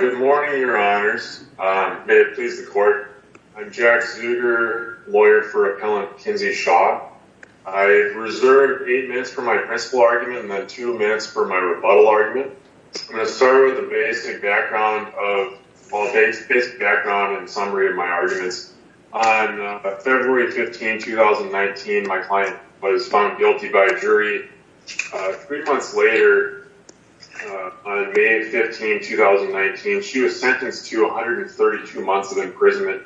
Good morning, your honors. May it please the court. I'm Jack Zucker, lawyer for appellant Kinzey Shaw. I've reserved eight minutes for my principle argument and then two minutes for my rebuttal argument. I'm going to start with the basic background and summary of my arguments. On February 15, 2019, my May 15, 2019, she was sentenced to 132 months of imprisonment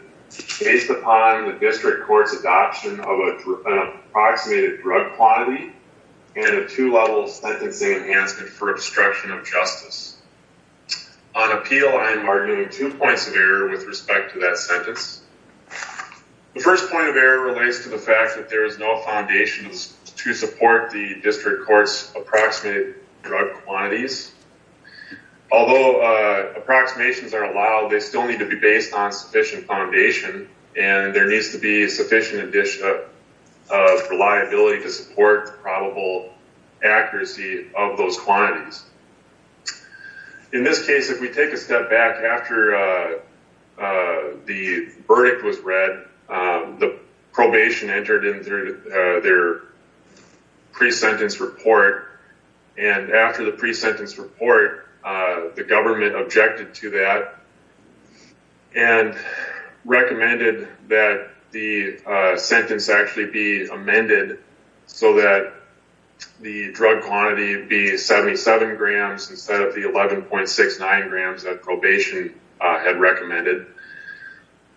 based upon the district court's adoption of an approximated drug quantity and a two-level sentencing enhancement for obstruction of justice. On appeal, I am arguing two points of error with respect to that sentence. The first point of error relates to the fact that there is no foundations to support the district court's approximated drug quantities. Although approximations are allowed, they still need to be based on sufficient foundation and there needs to be sufficient addition of reliability to support probable accuracy of those quantities. In this case, if we take a step back after the verdict was read, the and after the pre-sentence report, the government objected to that and recommended that the sentence actually be amended so that the drug quantity be 77 grams instead of the 11.69 grams that probation had recommended.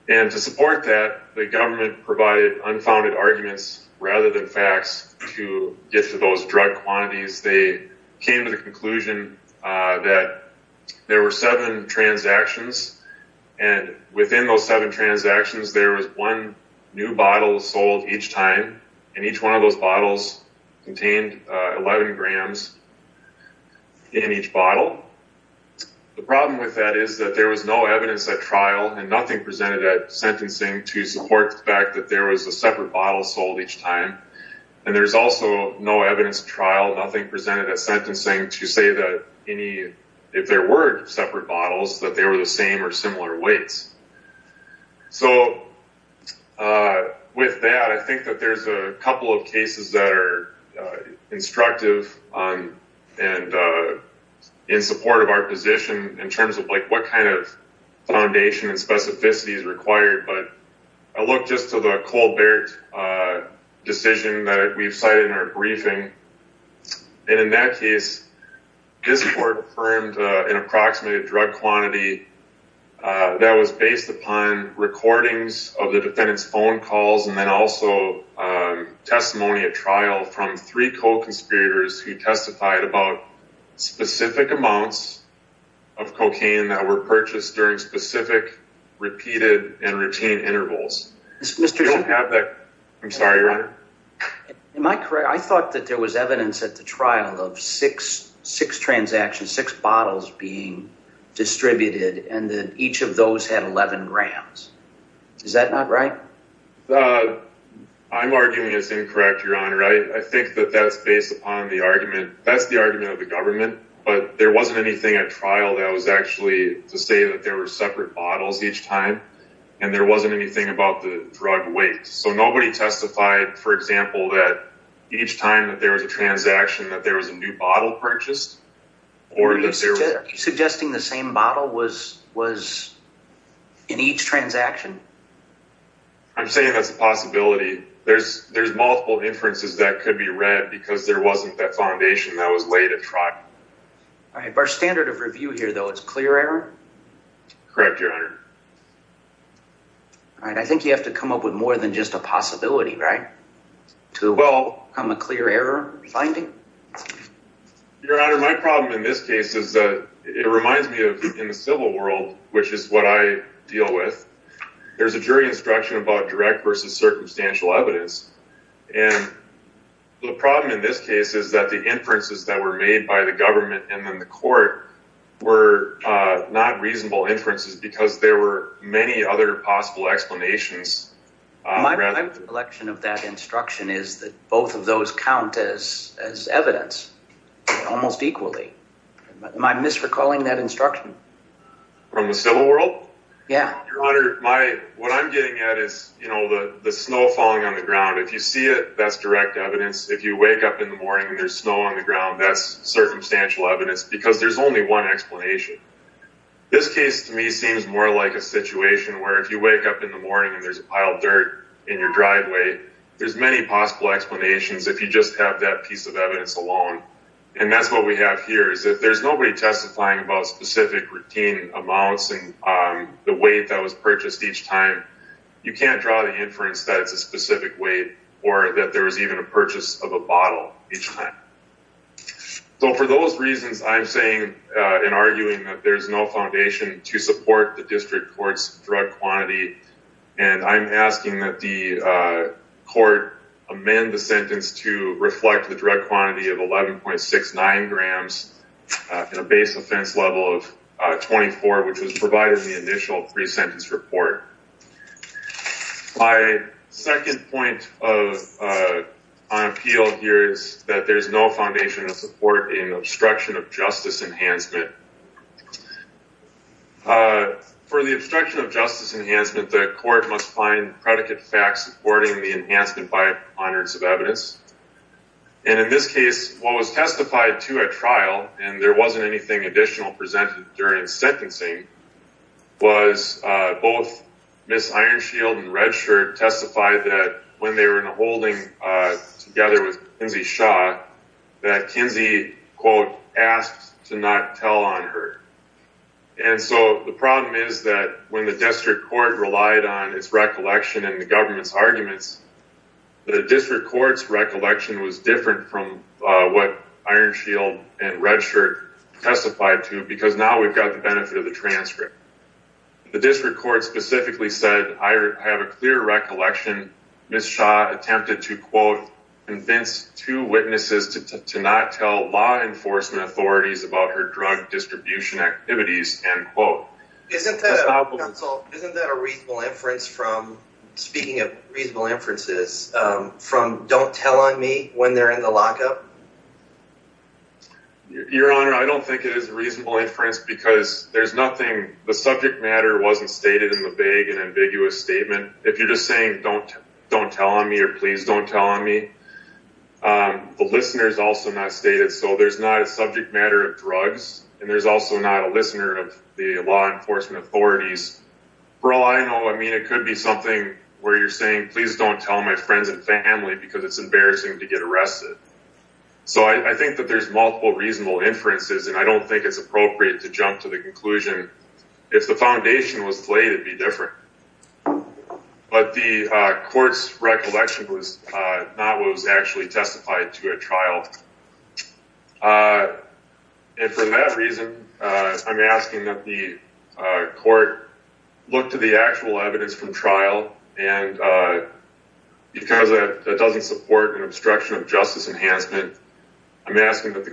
And to support that, the government provided unfounded arguments rather than facts to get to those drug quantities. They came to the conclusion that there were seven transactions and within those seven transactions, there was one new bottle sold each time and each one of those bottles contained 11 grams in each bottle. The problem with that is that there was no evidence at trial and nothing presented at sentencing to support the fact that there was a evidence trial, nothing presented at sentencing to say that any, if there were separate bottles, that they were the same or similar weights. So with that, I think that there's a couple of cases that are instructive and in support of our position in terms of like what kind of foundation and specificity is required, but I look just to the Colbert decision that we've cited in our briefing and in that case, this court affirmed an approximated drug quantity that was based upon recordings of the defendant's phone calls and then also testimony at trial from three co-conspirators who testified about specific amounts of I thought that there was evidence at the trial of six transactions, six bottles being distributed and that each of those had 11 grams. Is that not right? I'm arguing it's incorrect, Your Honor. I think that that's based upon the argument, that's the argument of the government, but there wasn't anything at trial that was actually to say that there were separate bottles each time and there wasn't anything about the drug weight. So nobody testified, for example, that each time that there was a transaction that there was a new bottle purchased or that there was... Are you suggesting the same bottle was in each transaction? I'm saying that's a possibility. There's multiple inferences that could be read because there wasn't that foundation that was laid at trial. All right, but our standard of review here though, it's clear error? Correct, Your Honor. All right, I think you have to come up with more than just a possibility, right? To become a clear error finding? Your Honor, my problem in this case is that it reminds me of in the civil world, which is what I deal with, there's a jury instruction about direct versus circumstantial evidence and the problem in this case is that the inferences that were made by the non-reasonable inferences because there were many other possible explanations... My recollection of that instruction is that both of those count as evidence almost equally. Am I misrecalling that instruction? From the civil world? Yeah. Your Honor, what I'm getting at is, you know, the snow falling on the ground, if you see it, that's direct evidence. If you wake up in the morning and there's snow on the ground, that's circumstantial evidence because there's only one explanation. This case to me seems more like a situation where if you wake up in the morning and there's a pile of dirt in your driveway, there's many possible explanations if you just have that piece of evidence alone and that's what we have here is that there's nobody testifying about specific routine amounts and the weight that was purchased each time. You can't draw the inference that it's a specific weight or that there was even a purchase of a drug. I'm arguing that there's no foundation to support the district court's drug quantity and I'm asking that the court amend the sentence to reflect the drug quantity of 11.69 grams in a base offense level of 24, which was provided in the initial pre-sentence report. My second point on appeal here is that there's no foundation of support in obstruction of justice enhancement. For the obstruction of justice enhancement, the court must find predicate facts supporting the enhancement by anonymous of evidence and in this case what was testified to a trial and there wasn't anything additional presented during sentencing was both Ms. Ironshield and Redshirt testified that when they were holding together with Kinsey Shaw that Kinsey quote asked to not tell on her and so the problem is that when the district court relied on its recollection and the government's arguments the district court's recollection was different from what Ironshield and Redshirt testified to because now we've got the benefit of the transcript. The district court specifically said I have clear recollection Ms. Shaw attempted to quote convince two witnesses to not tell law enforcement authorities about her drug distribution activities end quote. Isn't that a reasonable inference from speaking of reasonable inferences from don't tell on me when they're in the lockup? Your honor I don't think it is a reasonable inference because there's nothing the subject matter wasn't stated in the vague and ambiguous statement. If you're just saying don't don't tell on me or please don't tell on me the listeners also not stated so there's not a subject matter of drugs and there's also not a listener of the law enforcement authorities. For all I know I mean it could be something where you're saying please don't tell my friends and family because it's embarrassing to get arrested. So I think that there's multiple reasonable inferences and I don't think it's appropriate to jump to the conclusion if the foundation was laid it'd be different but the court's recollection was not what was actually testified to at trial and for that reason I'm asking that the court look to the actual evidence from trial and because it doesn't support an obstruction of justice enhancement I'm asking that the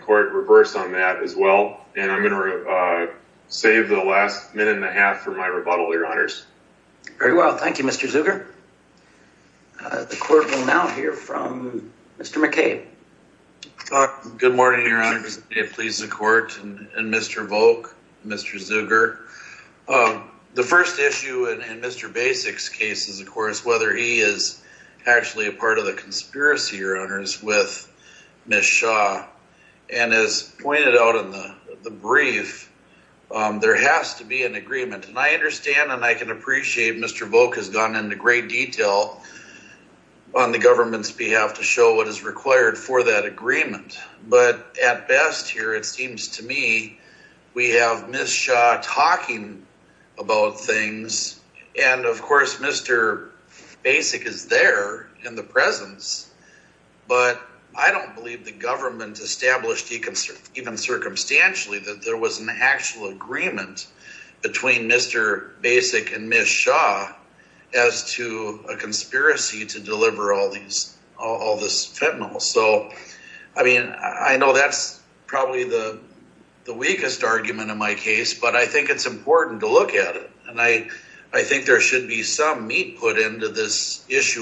have for my rebuttal your honors. Very well thank you Mr. Zuger. The court will now hear from Mr. McCabe. Good morning your honor please the court and Mr. Volk Mr. Zuger. The first issue in Mr. Basics case is of course whether he is actually a part of the conspiracy your honors with Ms. Shaw and as pointed out in the brief there has to be an agreement and I understand and I can appreciate Mr. Volk has gone into great detail on the government's behalf to show what is required for that agreement but at best here it seems to me we have Ms. Shaw talking about things and of course Mr. Basic is there in the presence but I don't believe the government established even circumstantially that there was an actual agreement between Mr. Basic and Ms. Shaw as to a conspiracy to deliver all these all this fentanyl so I mean I know that's probably the the weakest argument in my case but I think it's important to look at it and I I think there should be some meat put into this there's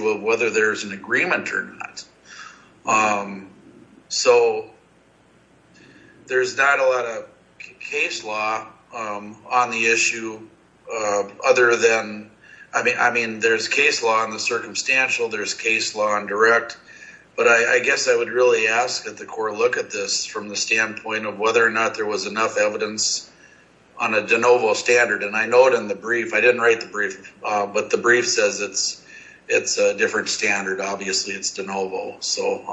not a lot of case law on the issue other than I mean I mean there's case law on the circumstantial there's case law on direct but I guess I would really ask that the court look at this from the standpoint of whether or not there was enough evidence on a de novo standard and I know it in the brief I didn't write the brief but the brief says it's it's a different standard obviously it's de novo so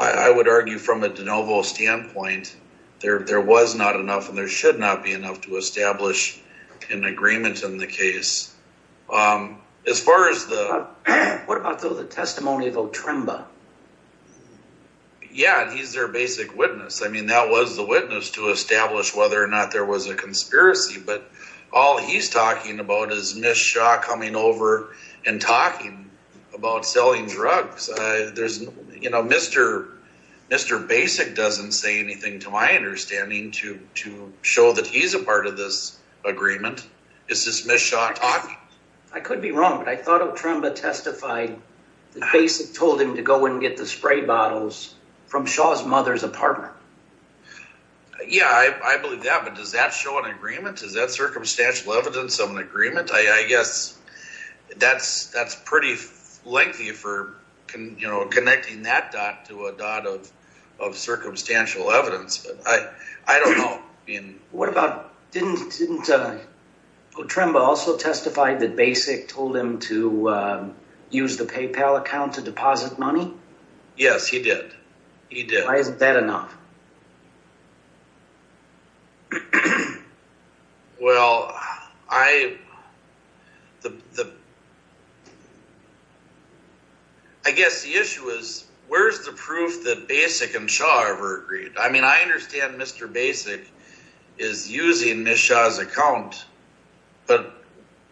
I would argue from a de novo standpoint there there was not enough and there should not be enough to establish an agreement in the case as far as the what about the testimony of Otremba yeah he's their basic witness I mean that was the witness to establish whether or not there was a conspiracy but all he's talking about is Miss Shaw coming over and talking about selling drugs there's you know mr. mr. basic doesn't say anything to my understanding to to show that he's a part of this agreement it's dismissed shot I could be wrong but I thought Otremba testified the basic told him to go and get the spray bottles from Shaw's mother's apartment yeah I believe that but does that show an agreement is that circumstantial evidence of an agreement I guess that's that's pretty lengthy for can you know connecting that dot to a dot of of circumstantial evidence but I I don't know in what about didn't didn't Otremba also testified that basic told him to use the PayPal account to deposit money yes he did he did I isn't that enough well I the I guess the issue is where's the proof that basic and Shaw ever agreed I mean I understand mr. basic is using miss Shaw's account but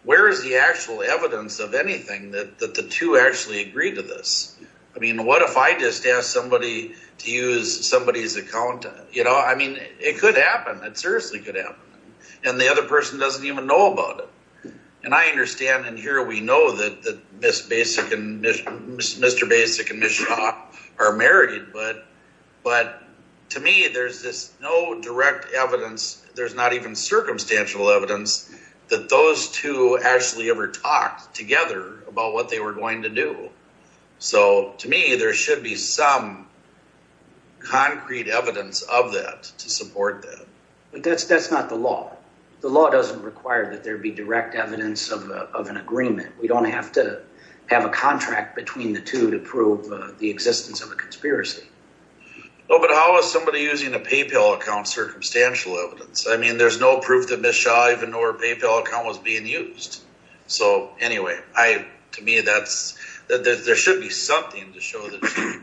where is the actual evidence of anything that the two actually agreed to this I mean what if I just asked somebody to use somebody's account you know I mean it could happen that seriously could happen and the other person doesn't even know about it and I understand and here we know that the miss basic and mr. basic and miss Shaw are married but but to me there's this no direct evidence there's not even circumstantial evidence that those two actually ever talked together about what they were going to do so to me there should be some concrete evidence of that to support that that's that's not the law the law doesn't require that there be direct evidence of an agreement we don't have to have a contract between the two to prove the existence of a conspiracy oh but how is somebody using a PayPal account circumstantial evidence I mean there's no proof that miss Shaw even or PayPal account was being used so anyway I to me that's that there should be something to show that you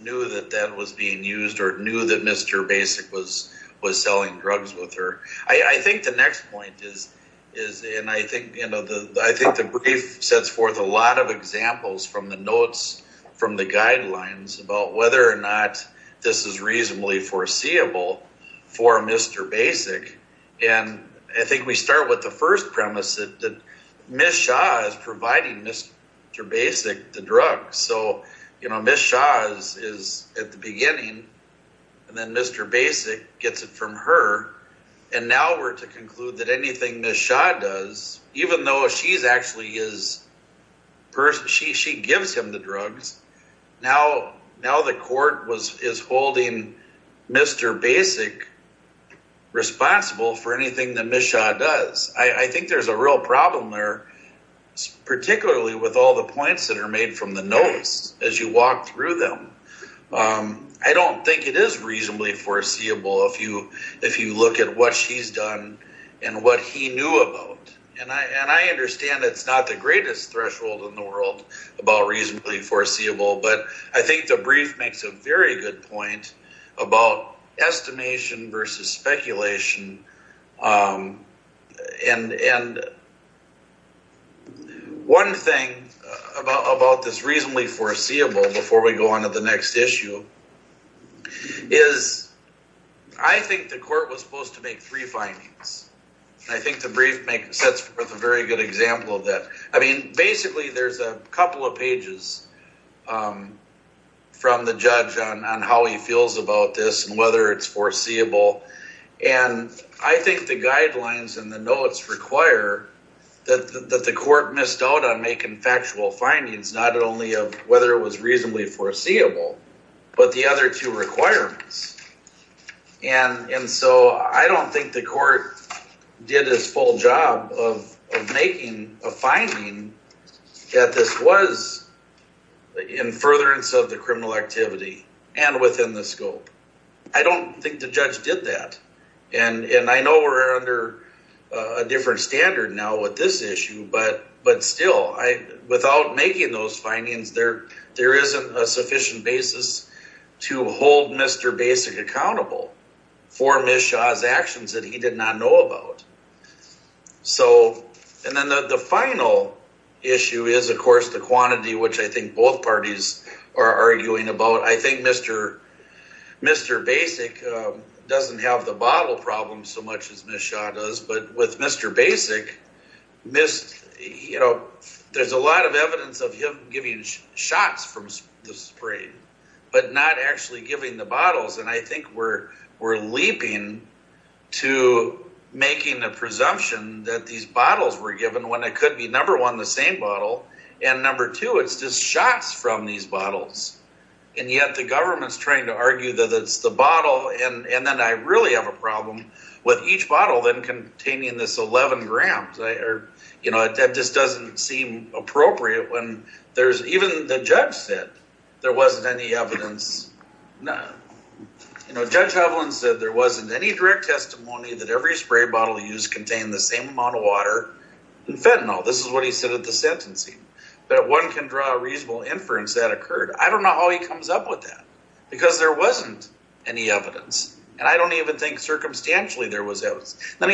knew that that was being used or knew that mr. basic was was selling drugs with her I think the next point is is and I think you know the I think the brief sets forth a lot of examples from the notes from the guidelines about whether or not this is reasonably foreseeable for mr. basic and I think we start with the first premise that miss Shaw is providing mr. basic the drug so you know miss Shaw's is at the beginning and then mr. basic gets it from her and now we're to conclude that anything miss Shaw does even though she's actually is first she is holding mr. basic responsible for anything that miss Shaw does I think there's a real problem there particularly with all the points that are made from the notes as you walk through them I don't think it is reasonably foreseeable if you if you look at what she's done and what he knew about and I and I understand it's not the greatest threshold in the world about reasonably foreseeable but I think the brief makes a very good point about estimation versus speculation and and one thing about this reasonably foreseeable before we go on to the next issue is I think the court was supposed to make three findings I think the brief make sets forth a very good example of I mean basically there's a couple of pages from the judge on how he feels about this and whether it's foreseeable and I think the guidelines and the notes require that the court missed out on making factual findings not only of whether it was reasonably foreseeable but the other two requirements and and I don't think the court did his full job of making a finding that this was in furtherance of the criminal activity and within the scope I don't think the judge did that and and I know we're under a different standard now with this issue but but still I without making those findings there there isn't a sufficient basis to hold mr. basic accountable for miss Shaw's actions that he did not know about so and then the final issue is of course the quantity which I think both parties are arguing about I think mr. mr. basic doesn't have the bottle problem so much as miss Shaw does but with mr. basic missed you know there's a lot of but not actually giving the bottles and I think we're we're leaping to making a presumption that these bottles were given when it could be number one the same bottle and number two it's just shots from these bottles and yet the government's trying to argue that it's the bottle and and then I really have a problem with each bottle then containing this 11 grams I or you know that just doesn't seem appropriate when there's even the judge said there wasn't any evidence no you know judge Hovland said there wasn't any direct testimony that every spray bottle used contained the same amount of water and fentanyl this is what he said at the sentencing that one can draw a reasonable inference that occurred I don't know how he comes up with that because there wasn't any evidence and I don't even think circumstantially there was evidence then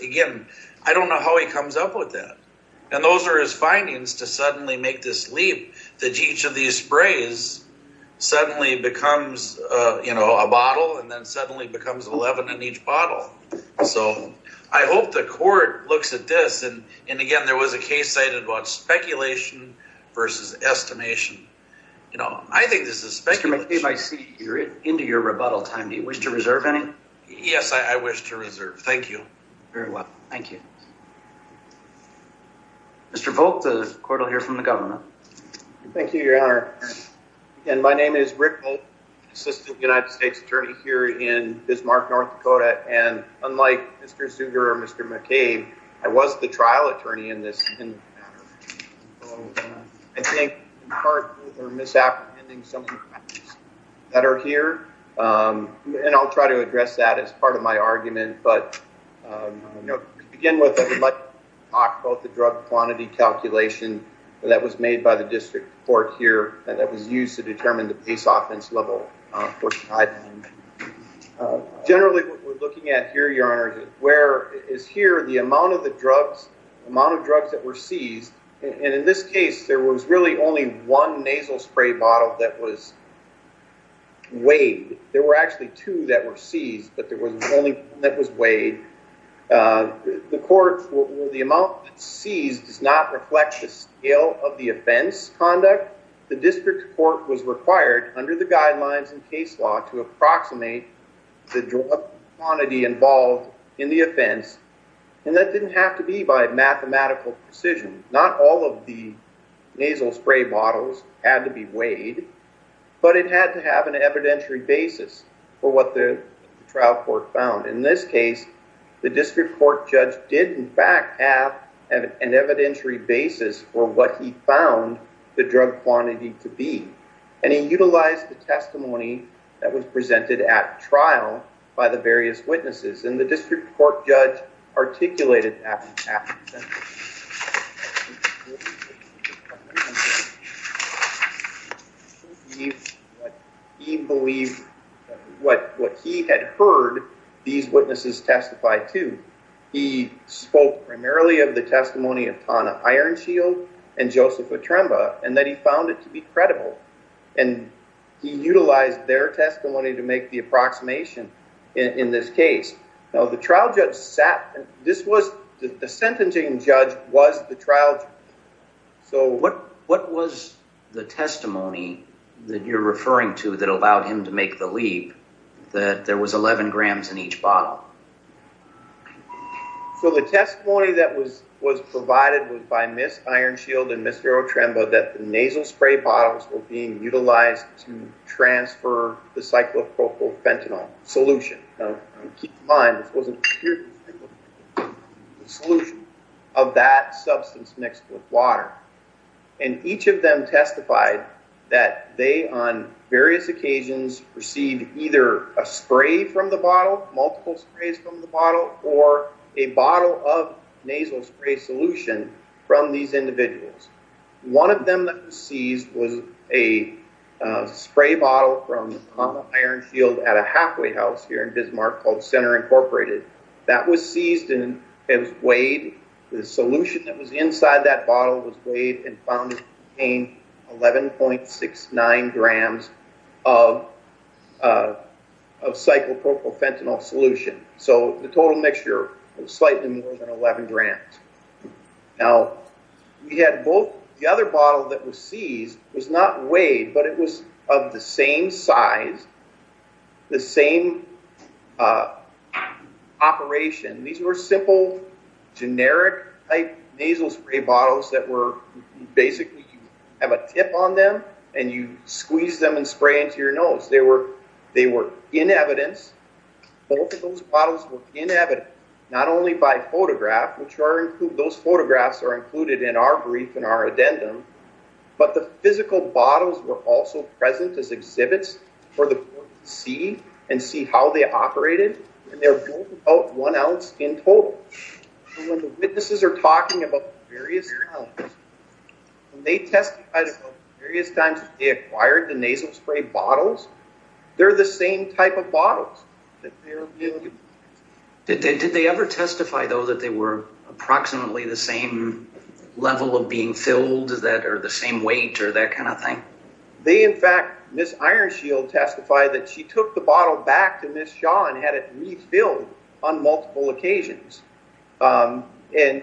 again I don't know how he comes up with that and those are his findings to suddenly make this leap that each of these sprays suddenly becomes you know a bottle and then suddenly becomes 11 in each bottle so I hope the court looks at this and and again there was a case cited about speculation versus estimation you know I think this is speculative I see you're into your thank you very well thank you mr. Volk the court will hear from the government thank you your honor and my name is Rick assistant United States attorney here in Bismarck North Dakota and unlike mr. Suger or mr. McCabe I was the trial attorney in this I think part or misapprehending some that are here and I'll try to address that as part of my argument but you know begin with a good luck talk about the drug quantity calculation that was made by the district court here and that was used to determine the peace offense level for time generally we're looking at here your honor where is here the amount of the drugs amount of drugs that were seized and in this case there was really only one nasal spray bottle that was weighed there were actually two that were seized but there was only that was weighed the court will the amount that sees does not reflect the scale of the offense conduct the district court was required under the guidelines and case law to approximate the quantity involved in the offense and that didn't have to be by mathematical precision not all of the nasal spray bottles had to be weighed but it had to have an evidentiary basis for what the trial court found in this case the district court judge did in fact have an evidentiary basis for what he found the drug quantity to be and he utilized the testimony that was presented at trial by the various witnesses in the district court judge articulated what he had heard these witnesses testified to he spoke primarily of the testimony of Tana Ironshield and Joseph Atremba and that he found it to be credible and he in this case now the trial judge sat this was the sentencing judge was the trial so what what was the testimony that you're referring to that allowed him to make the leap that there was 11 grams in each bottle so the testimony that was was provided was by Miss Ironshield and Mr. Atremba that the nasal spray bottles were being utilized to transfer the cyclopropyl fentanyl solution of that substance mixed with water and each of them testified that they on various occasions received either a spray from the bottle multiple sprays from the bottle or a bottle of nasal spray solution from these individuals one of them that was seized was a spray bottle from Ironshield at a halfway house here in Bismarck called Center Incorporated that was seized and it was weighed the solution that was inside that bottle was weighed and found in 11.69 grams of of cyclopropyl fentanyl solution so the total mixture was slightly more than 11 grams now we had both the other bottle that was seized was not weighed but it was of the same size the same operation these were simple generic type nasal spray bottles that were basically you have a tip on them and you squeeze them and spray into your nose they were they were in evidence both of those bottles were in evidence not only by photograph which are include those photographs are included in our brief in our addendum but the physical bottles were also present as exhibits for the board to see and see how they operated and they're both about one ounce in total and when the witnesses are talking about the various times they testified about the various times they acquired the nasal spray bottles they're the same type of bottles did they ever testify though that they were approximately the same level of being filled that are the same weight or that kind of thing they in fact miss Ironshield testified that she took the bottle back to Miss Shaw and had it refilled on multiple occasions and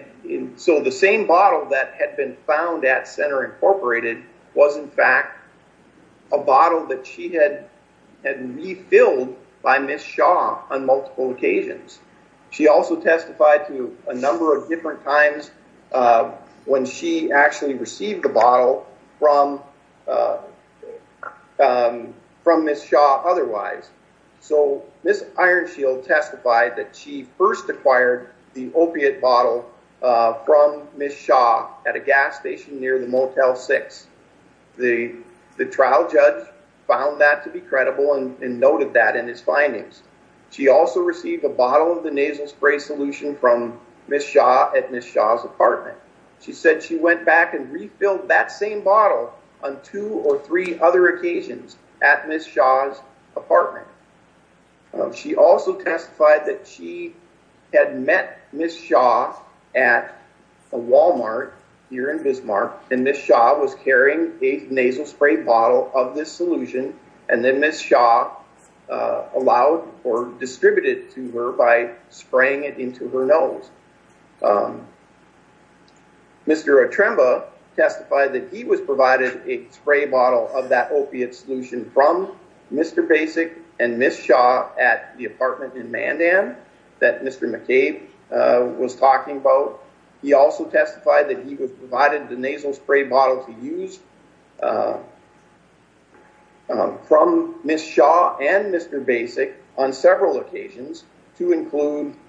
so the same bottle that had been found at Center Incorporated was in fact a bottle that she had had refilled by Miss Shaw on multiple occasions she also testified to a number of different times when she actually received the bottle from Miss Shaw otherwise so Miss Ironshield testified that she first acquired the opiate bottle from Miss Shaw at a gas station near the Motel 6 the trial judge found that to be credible and noted that in his findings she also received a bottle of the nasal spray solution from Miss Shaw at Miss Shaw's apartment she said she went back and refilled that same bottle on two or three other occasions at Miss Shaw's apartment she also testified that she had met Miss Shaw at a Walmart here in Bismarck and Miss Shaw was carrying a to her by spraying it into her nose Mr. Atremba testified that he was provided a spray bottle of that opiate solution from Mr. Basic and Miss Shaw at the apartment in Mandan that Mr. McCabe was talking about he also testified that he was provided the nasal spray bottle to use from Miss Shaw and Mr. Basic on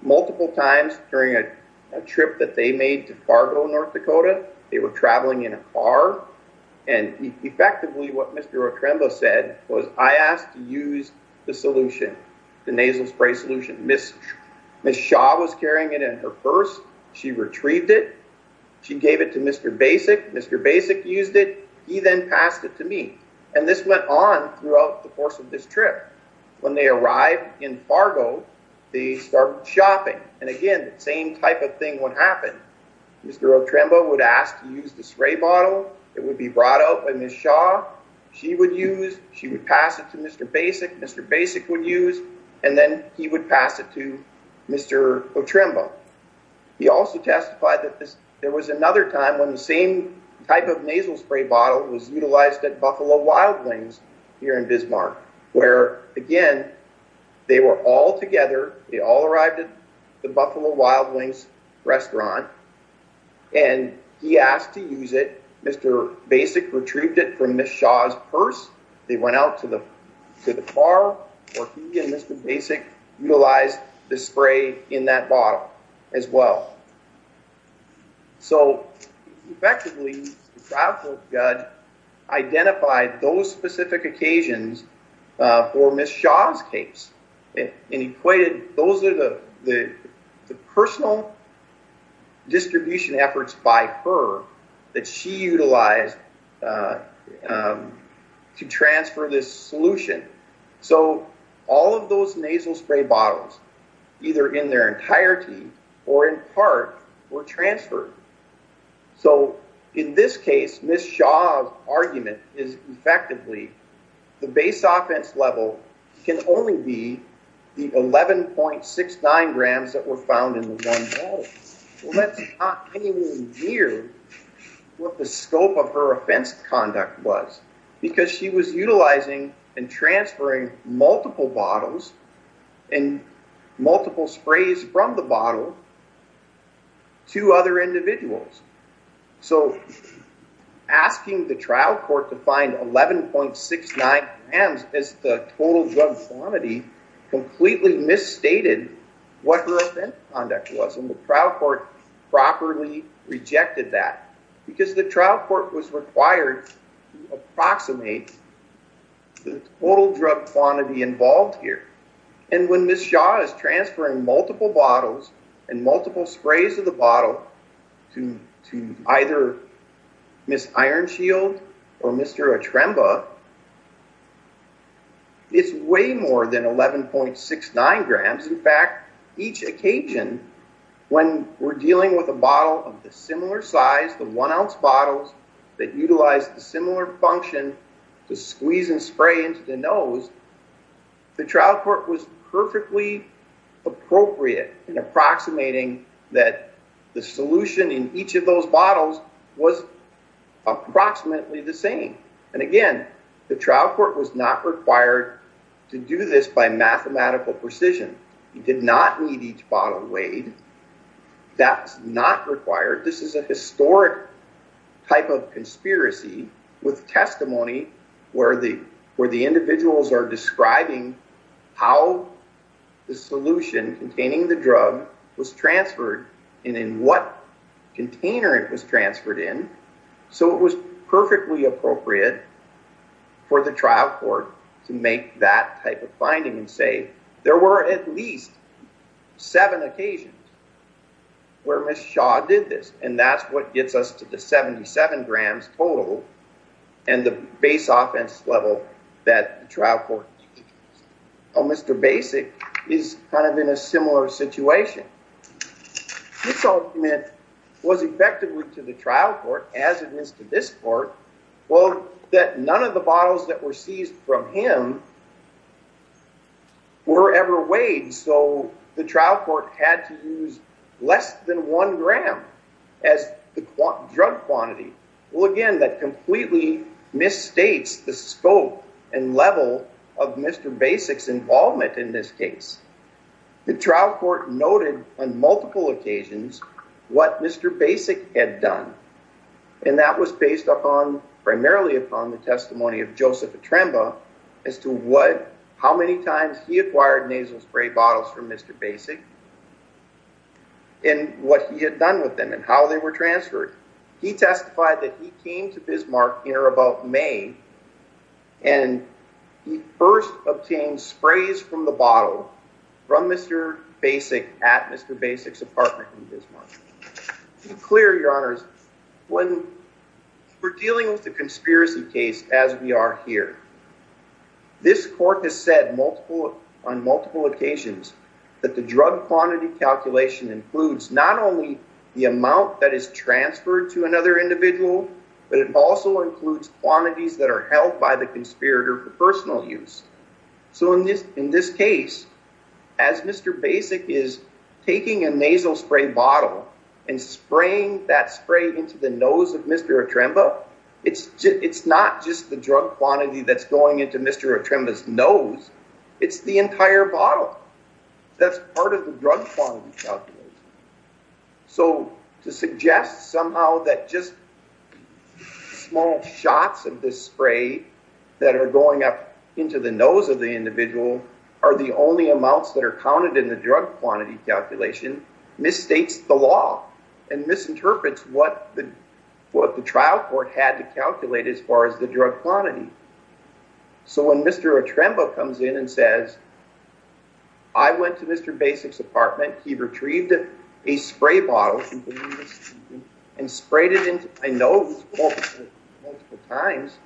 multiple occasions during a trip that they made to Fargo North Dakota they were traveling in a car and effectively what Mr. Atremba said was I asked to use the solution the nasal spray solution miss miss Shaw was carrying it in her purse she retrieved it she gave it to mr. basic mr. basic used it he then passed it to me and this went on throughout the course of this trip when they arrived in Fargo they started shopping and again the same type of thing what happened mr. Atremba would ask to use the spray bottle it would be brought out by miss Shaw she would use she would pass it to mr. basic mr. basic would use and then he would pass it to mr. Atremba he also testified that this there was another time when the same type of nasal spray bottle was utilized at Buffalo Wild Wings here in Bismarck where again they were all together they all arrived at the Buffalo Wild Wings restaurant and he asked to use it mr. basic retrieved it from miss Shaw's purse they went out to the to the car or he and mr. basic utilized the spray in that bottle as well so effectively I identified those specific occasions for miss Shaw's case and equated those are the the personal distribution efforts by her that she utilized to transfer this solution so all of those nasal spray bottles either in their entirety or in transfer so in this case miss Shaw's argument is effectively the base offense level can only be the eleven point six nine grams that were found in the one year what the scope of her offense conduct was because she was utilizing and transferring multiple bottles and multiple sprays from the to other individuals so asking the trial court to find 11.69 and as the total drug quantity completely misstated what her offense on deck wasn't the trial court properly rejected that because the trial court was required approximate the total drug quantity involved here and when miss Shaw is transferring multiple bottles and multiple sprays of the bottle to to either miss iron shield or mr. a tremble it's way more than eleven point six nine grams in fact each occasion when we're dealing with a bottle of the similar size the one ounce bottles that utilize the similar function to squeeze and spray into the the trial court was perfectly appropriate in approximating that the solution in each of those bottles was approximately the same and again the trial court was not required to do this by mathematical precision you did not need each bottle weighed that's not required this is a historic type of describing how the solution containing the drug was transferred and in what container it was transferred in so it was perfectly appropriate for the trial court to make that type of finding and say there were at least seven occasions where miss Shaw did this and that's what gets us to the 77 grams total and the base offense level that trial for mr. basic is kind of in a similar situation this argument was effectively to the trial court as it is to this court well that none of the bottles that were seized from him were ever weighed so the trial court had to use less than one gram as the drug quantity well again that completely misstates the scope and level of mr. basics involvement in this case the trial court noted on multiple occasions what mr. basic had done and that was based upon primarily upon the testimony of Joseph Atremba as to what how many times he acquired nasal spray bottles from mr. basic and what he had with them and how they were transferred he testified that he came to Bismarck here about May and he first obtained sprays from the bottle from mr. basic at mr. basics apartment in Bismarck clear your honors when we're dealing with the conspiracy case as we are here this court has said multiple on multiple occasions that the drug quantity calculation includes not only the amount that is transferred to another individual but it also includes quantities that are held by the conspirator for personal use so in this in this case as mr. basic is taking a nasal spray bottle and spraying that spray into the nose of mr. Atremba it's it's not just the drug quantity that's going into mr. Atremba's nose it's the entire bottle that's part of the drug quantity so to suggest somehow that just small shots of this spray that are going up into the nose of the individual are the only amounts that are counted in the drug quantity calculation misstates the law and misinterprets what the what the had to calculate as far as the drug quantity so when mr. Atremba comes in and says I went to mr. basics apartment he retrieved a spray bottle and sprayed it in I know multiple times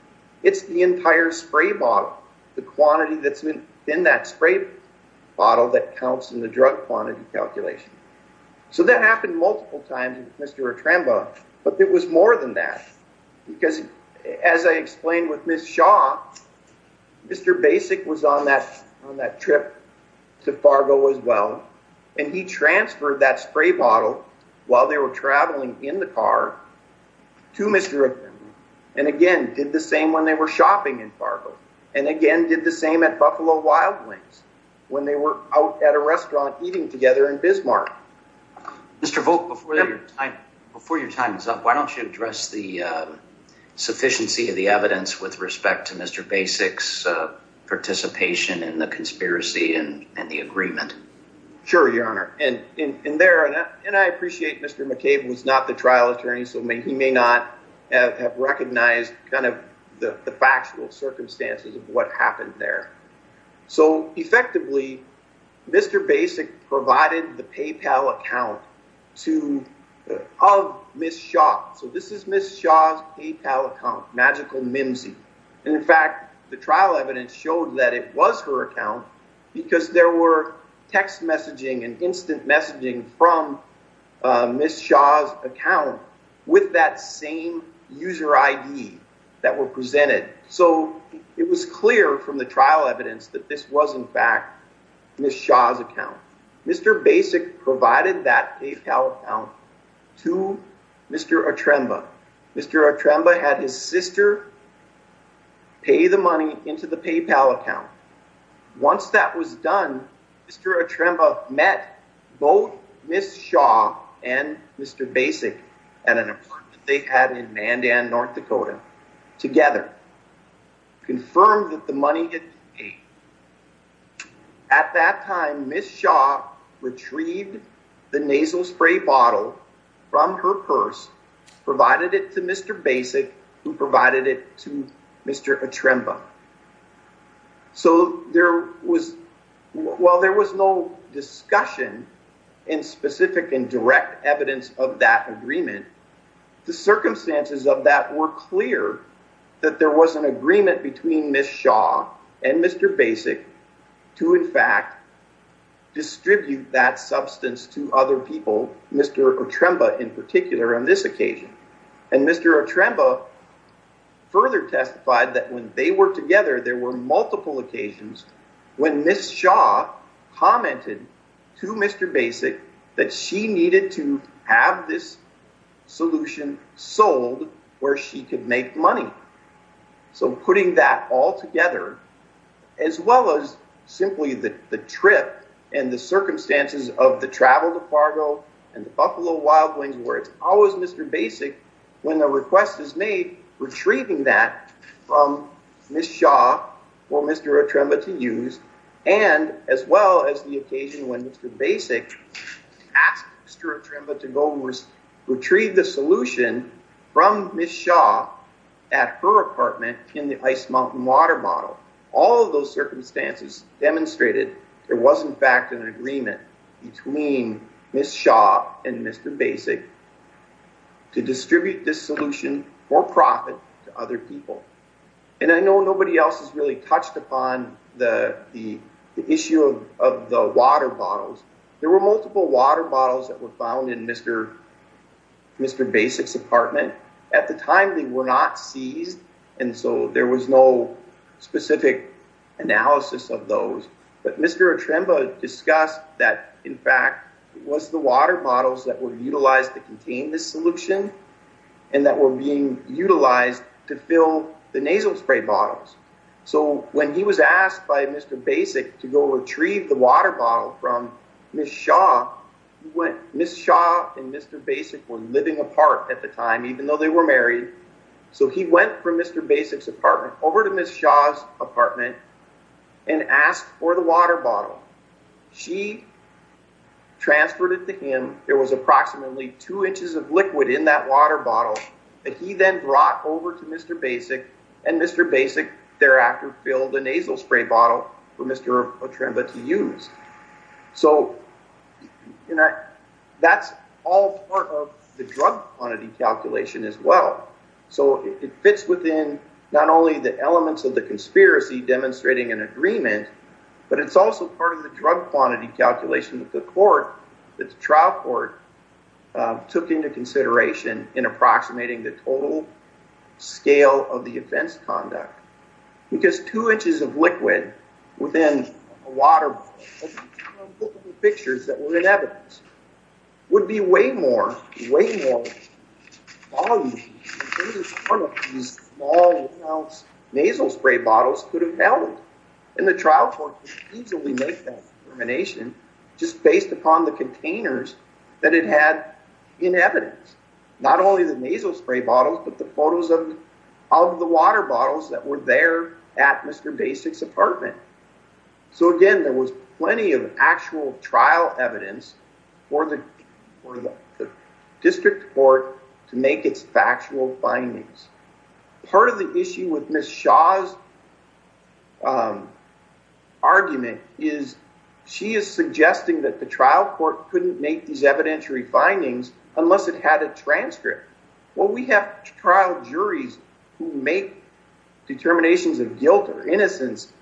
it's the entire spray bottle the quantity that's in that spray bottle that counts in the drug quantity calculation so that happened multiple times mr. Atremba but it was more than that because as I explained with miss Shaw mr. basic was on that on that trip to Fargo as well and he transferred that spray bottle while they were traveling in the car to mr. and again did the same when they were shopping in Fargo and again did the same at Buffalo Wild Wings when they were out at a restaurant eating together in Bismarck mr. vote before your time before your time is up why don't you address the sufficiency of the evidence with respect to mr. basics participation in the conspiracy and and the agreement sure your honor and in there and I appreciate mr. McCabe was not the trial attorney so may he may not have recognized kind of the factual circumstances of what happened there so effectively mr. basic provided the PayPal account to of miss shop so this is miss Shaw's PayPal account magical mimsy in fact the trial evidence showed that it was her account because there were text messaging and instant messaging from miss Shaw's account with that same user ID that were presented so it was clear from the trial evidence that this was in fact miss Shaw's account mr. basic provided that PayPal account to mr. Atreba mr. Atreba had his sister pay the money into the PayPal account once that was done mr. Atreba met both miss Shaw and mr. basic and an apartment they had in Mandan North Dakota together confirmed that the money at that time miss Shaw retrieved the nasal spray bottle from her purse provided it to mr. basic who provided it to mr. Atreba so there was while there was no discussion in specific and evidence of that agreement the circumstances of that were clear that there was an agreement between miss Shaw and mr. basic to in fact distribute that substance to other people mr. Atreba in particular on this occasion and mr. Atreba further testified that when they were together there were multiple occasions when miss Shaw commented to mr. basic that she needed to have this solution sold where she could make money so putting that all together as well as simply that the trip and the circumstances of the travel to Fargo and the Buffalo Wild Wings where it's always mr. basic when the request is made retrieving that from miss Shaw or mr. Atreba to use and as well as the occasion when mr. basic asked mr. Atreba to go was retrieve the solution from miss Shaw at her apartment in the ice mountain water model all of those circumstances demonstrated there was in fact an agreement between miss Shaw and for profit to other people and I know nobody else has really touched upon the the issue of the water bottles there were multiple water bottles that were found in mr. mr. basics apartment at the time they were not seized and so there was no specific analysis of those but mr. Atreba discussed that in fact it was the water bottles that were utilized to contain this solution and that were being utilized to fill the nasal spray bottles so when he was asked by mr. basic to go retrieve the water bottle from miss Shaw when miss Shaw and mr. basic were living apart at the time even though they were married so he went from mr. basics apartment over to miss Shaw's apartment and asked for the water bottle she transferred it to him there was approximately two inches of liquid in that water bottle that he then brought over to mr. basic and mr. basic thereafter filled the nasal spray bottle for mr. Atreba to use so you know that's all part of the drug quantity calculation as well so it fits within not only the elements of the conspiracy demonstrating an agreement but it's also part of the drug quantity calculation that the court that the trial court took into consideration in approximating the total scale of the offense conduct because two inches of liquid within water pictures that were in evidence would be way more way more nasal spray bottles could have held in the trial court easily make that determination just based upon the containers that it had in evidence not only the nasal spray bottles but the photos of of the water bottles that were there at mr. basics apartment so again there was plenty of actual trial evidence for the district court to make its factual findings part of the issue with miss Shaw's argument is she is suggesting that the trial court couldn't make these evidentiary findings unless it had a transcript well we have trial juries who make determinations of guilt or innocence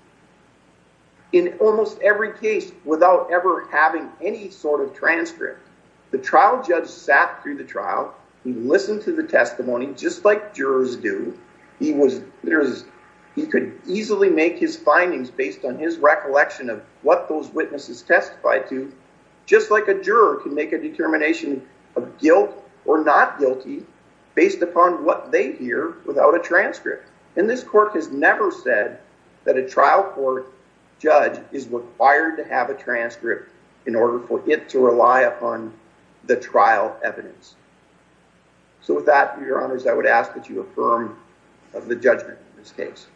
in almost every case without ever having any sort of transcript the trial judge sat through the trial he listened to the testimony just like jurors do he was there's he could easily make his findings based on his recollection of what those witnesses testified to just like a juror can make a determination of guilt or not guilty based upon what they hear without a transcript and this court has never said that a trial court judge is required to have a transcript in order for it to rely upon the trial evidence so with that your honors I would ask that you affirm of the judgment in this case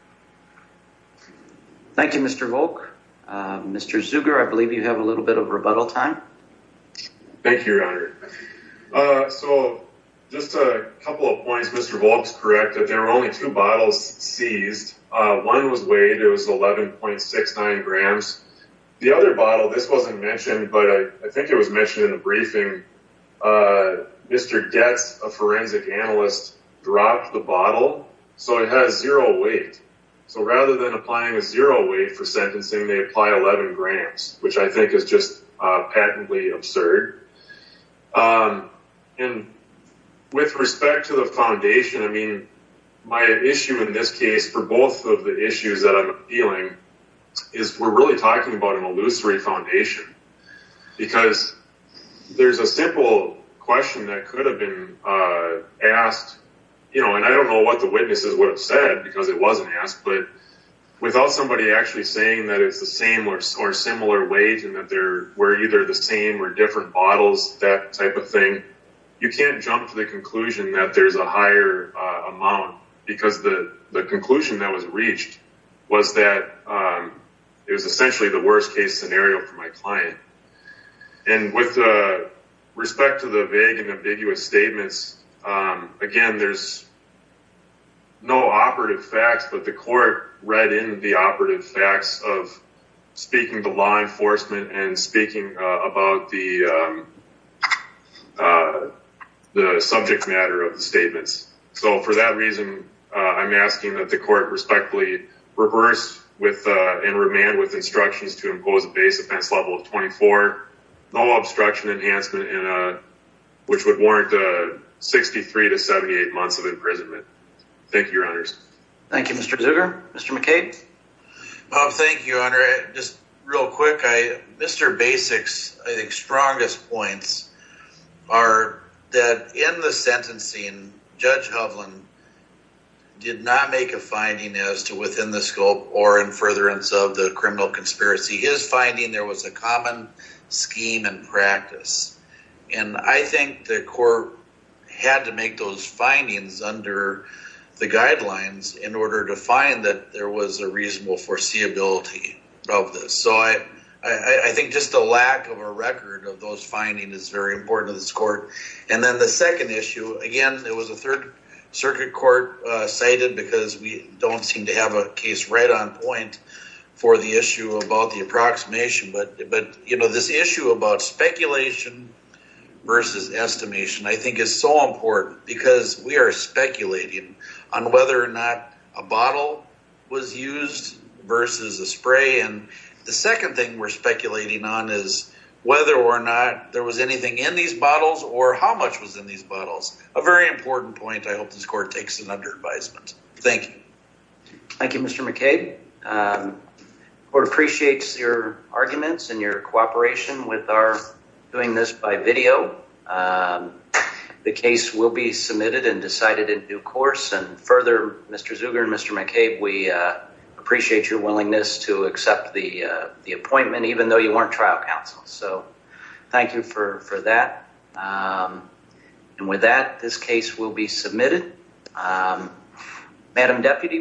thank you mr. Volk mr. Zuber I believe you have a little bit of rebuttal time thank you your honor so just a couple of points mr. Volk's correct that there are only two bottles seized one was weighed it was eleven point six nine grams the other bottle this wasn't mentioned but I think it was mentioned in the briefing mr. gets a forensic analyst dropped the bottle so it has zero weight so rather than applying a zero weight for sentencing they apply 11 grams which I think is just patently absurd and with respect to the foundation I mean my issue in this case for both of the issues that I'm appealing is we're really talking about an illusory foundation because there's a simple question that could have been asked you know and I don't know what the witnesses would have said because it wasn't asked but without somebody actually saying that it's the same or similar weight and that there were either the same or different bottles that type of thing you can't jump to the conclusion that there's a higher amount because the the conclusion that was reached was that it was essentially the worst case scenario for my client and with respect to the vague and ambiguous statements again there's no operative facts but the court read in the operative facts of speaking to law enforcement and speaking about the the subject matter of the statements so for that reason I'm asking that the instructions to impose a base offense level of 24 no obstruction enhancement in a which would warrant a 63 to 78 months of imprisonment thank you runners Thank You mr. sugar mr. McCabe thank you under it just real quick I mr. basics I think strongest points are that in the sentencing judge Hovland did not make a finding as to within the scope or in furtherance of the criminal conspiracy his finding there was a common scheme and practice and I think the court had to make those findings under the guidelines in order to find that there was a reasonable foreseeability of this so I I think just a lack of a record of those finding is very important to this court and then the second issue again there was a third circuit court cited because we don't seem to have a case right on point for the issue about the approximation but but you know this issue about speculation versus estimation I think is so important because we are speculating on whether or not a bottle was used versus a spray and the second thing we're speculating on is whether or not there was anything in these bottles or how much was in these thank you thank you mr. McCabe or appreciates your arguments and your cooperation with our doing this by video the case will be submitted and decided in due course and further mr. Zuber mr. McCabe we appreciate your willingness to accept the appointment even though you weren't trial counsel so thank you for for that and with that this case will be submitted madam deputy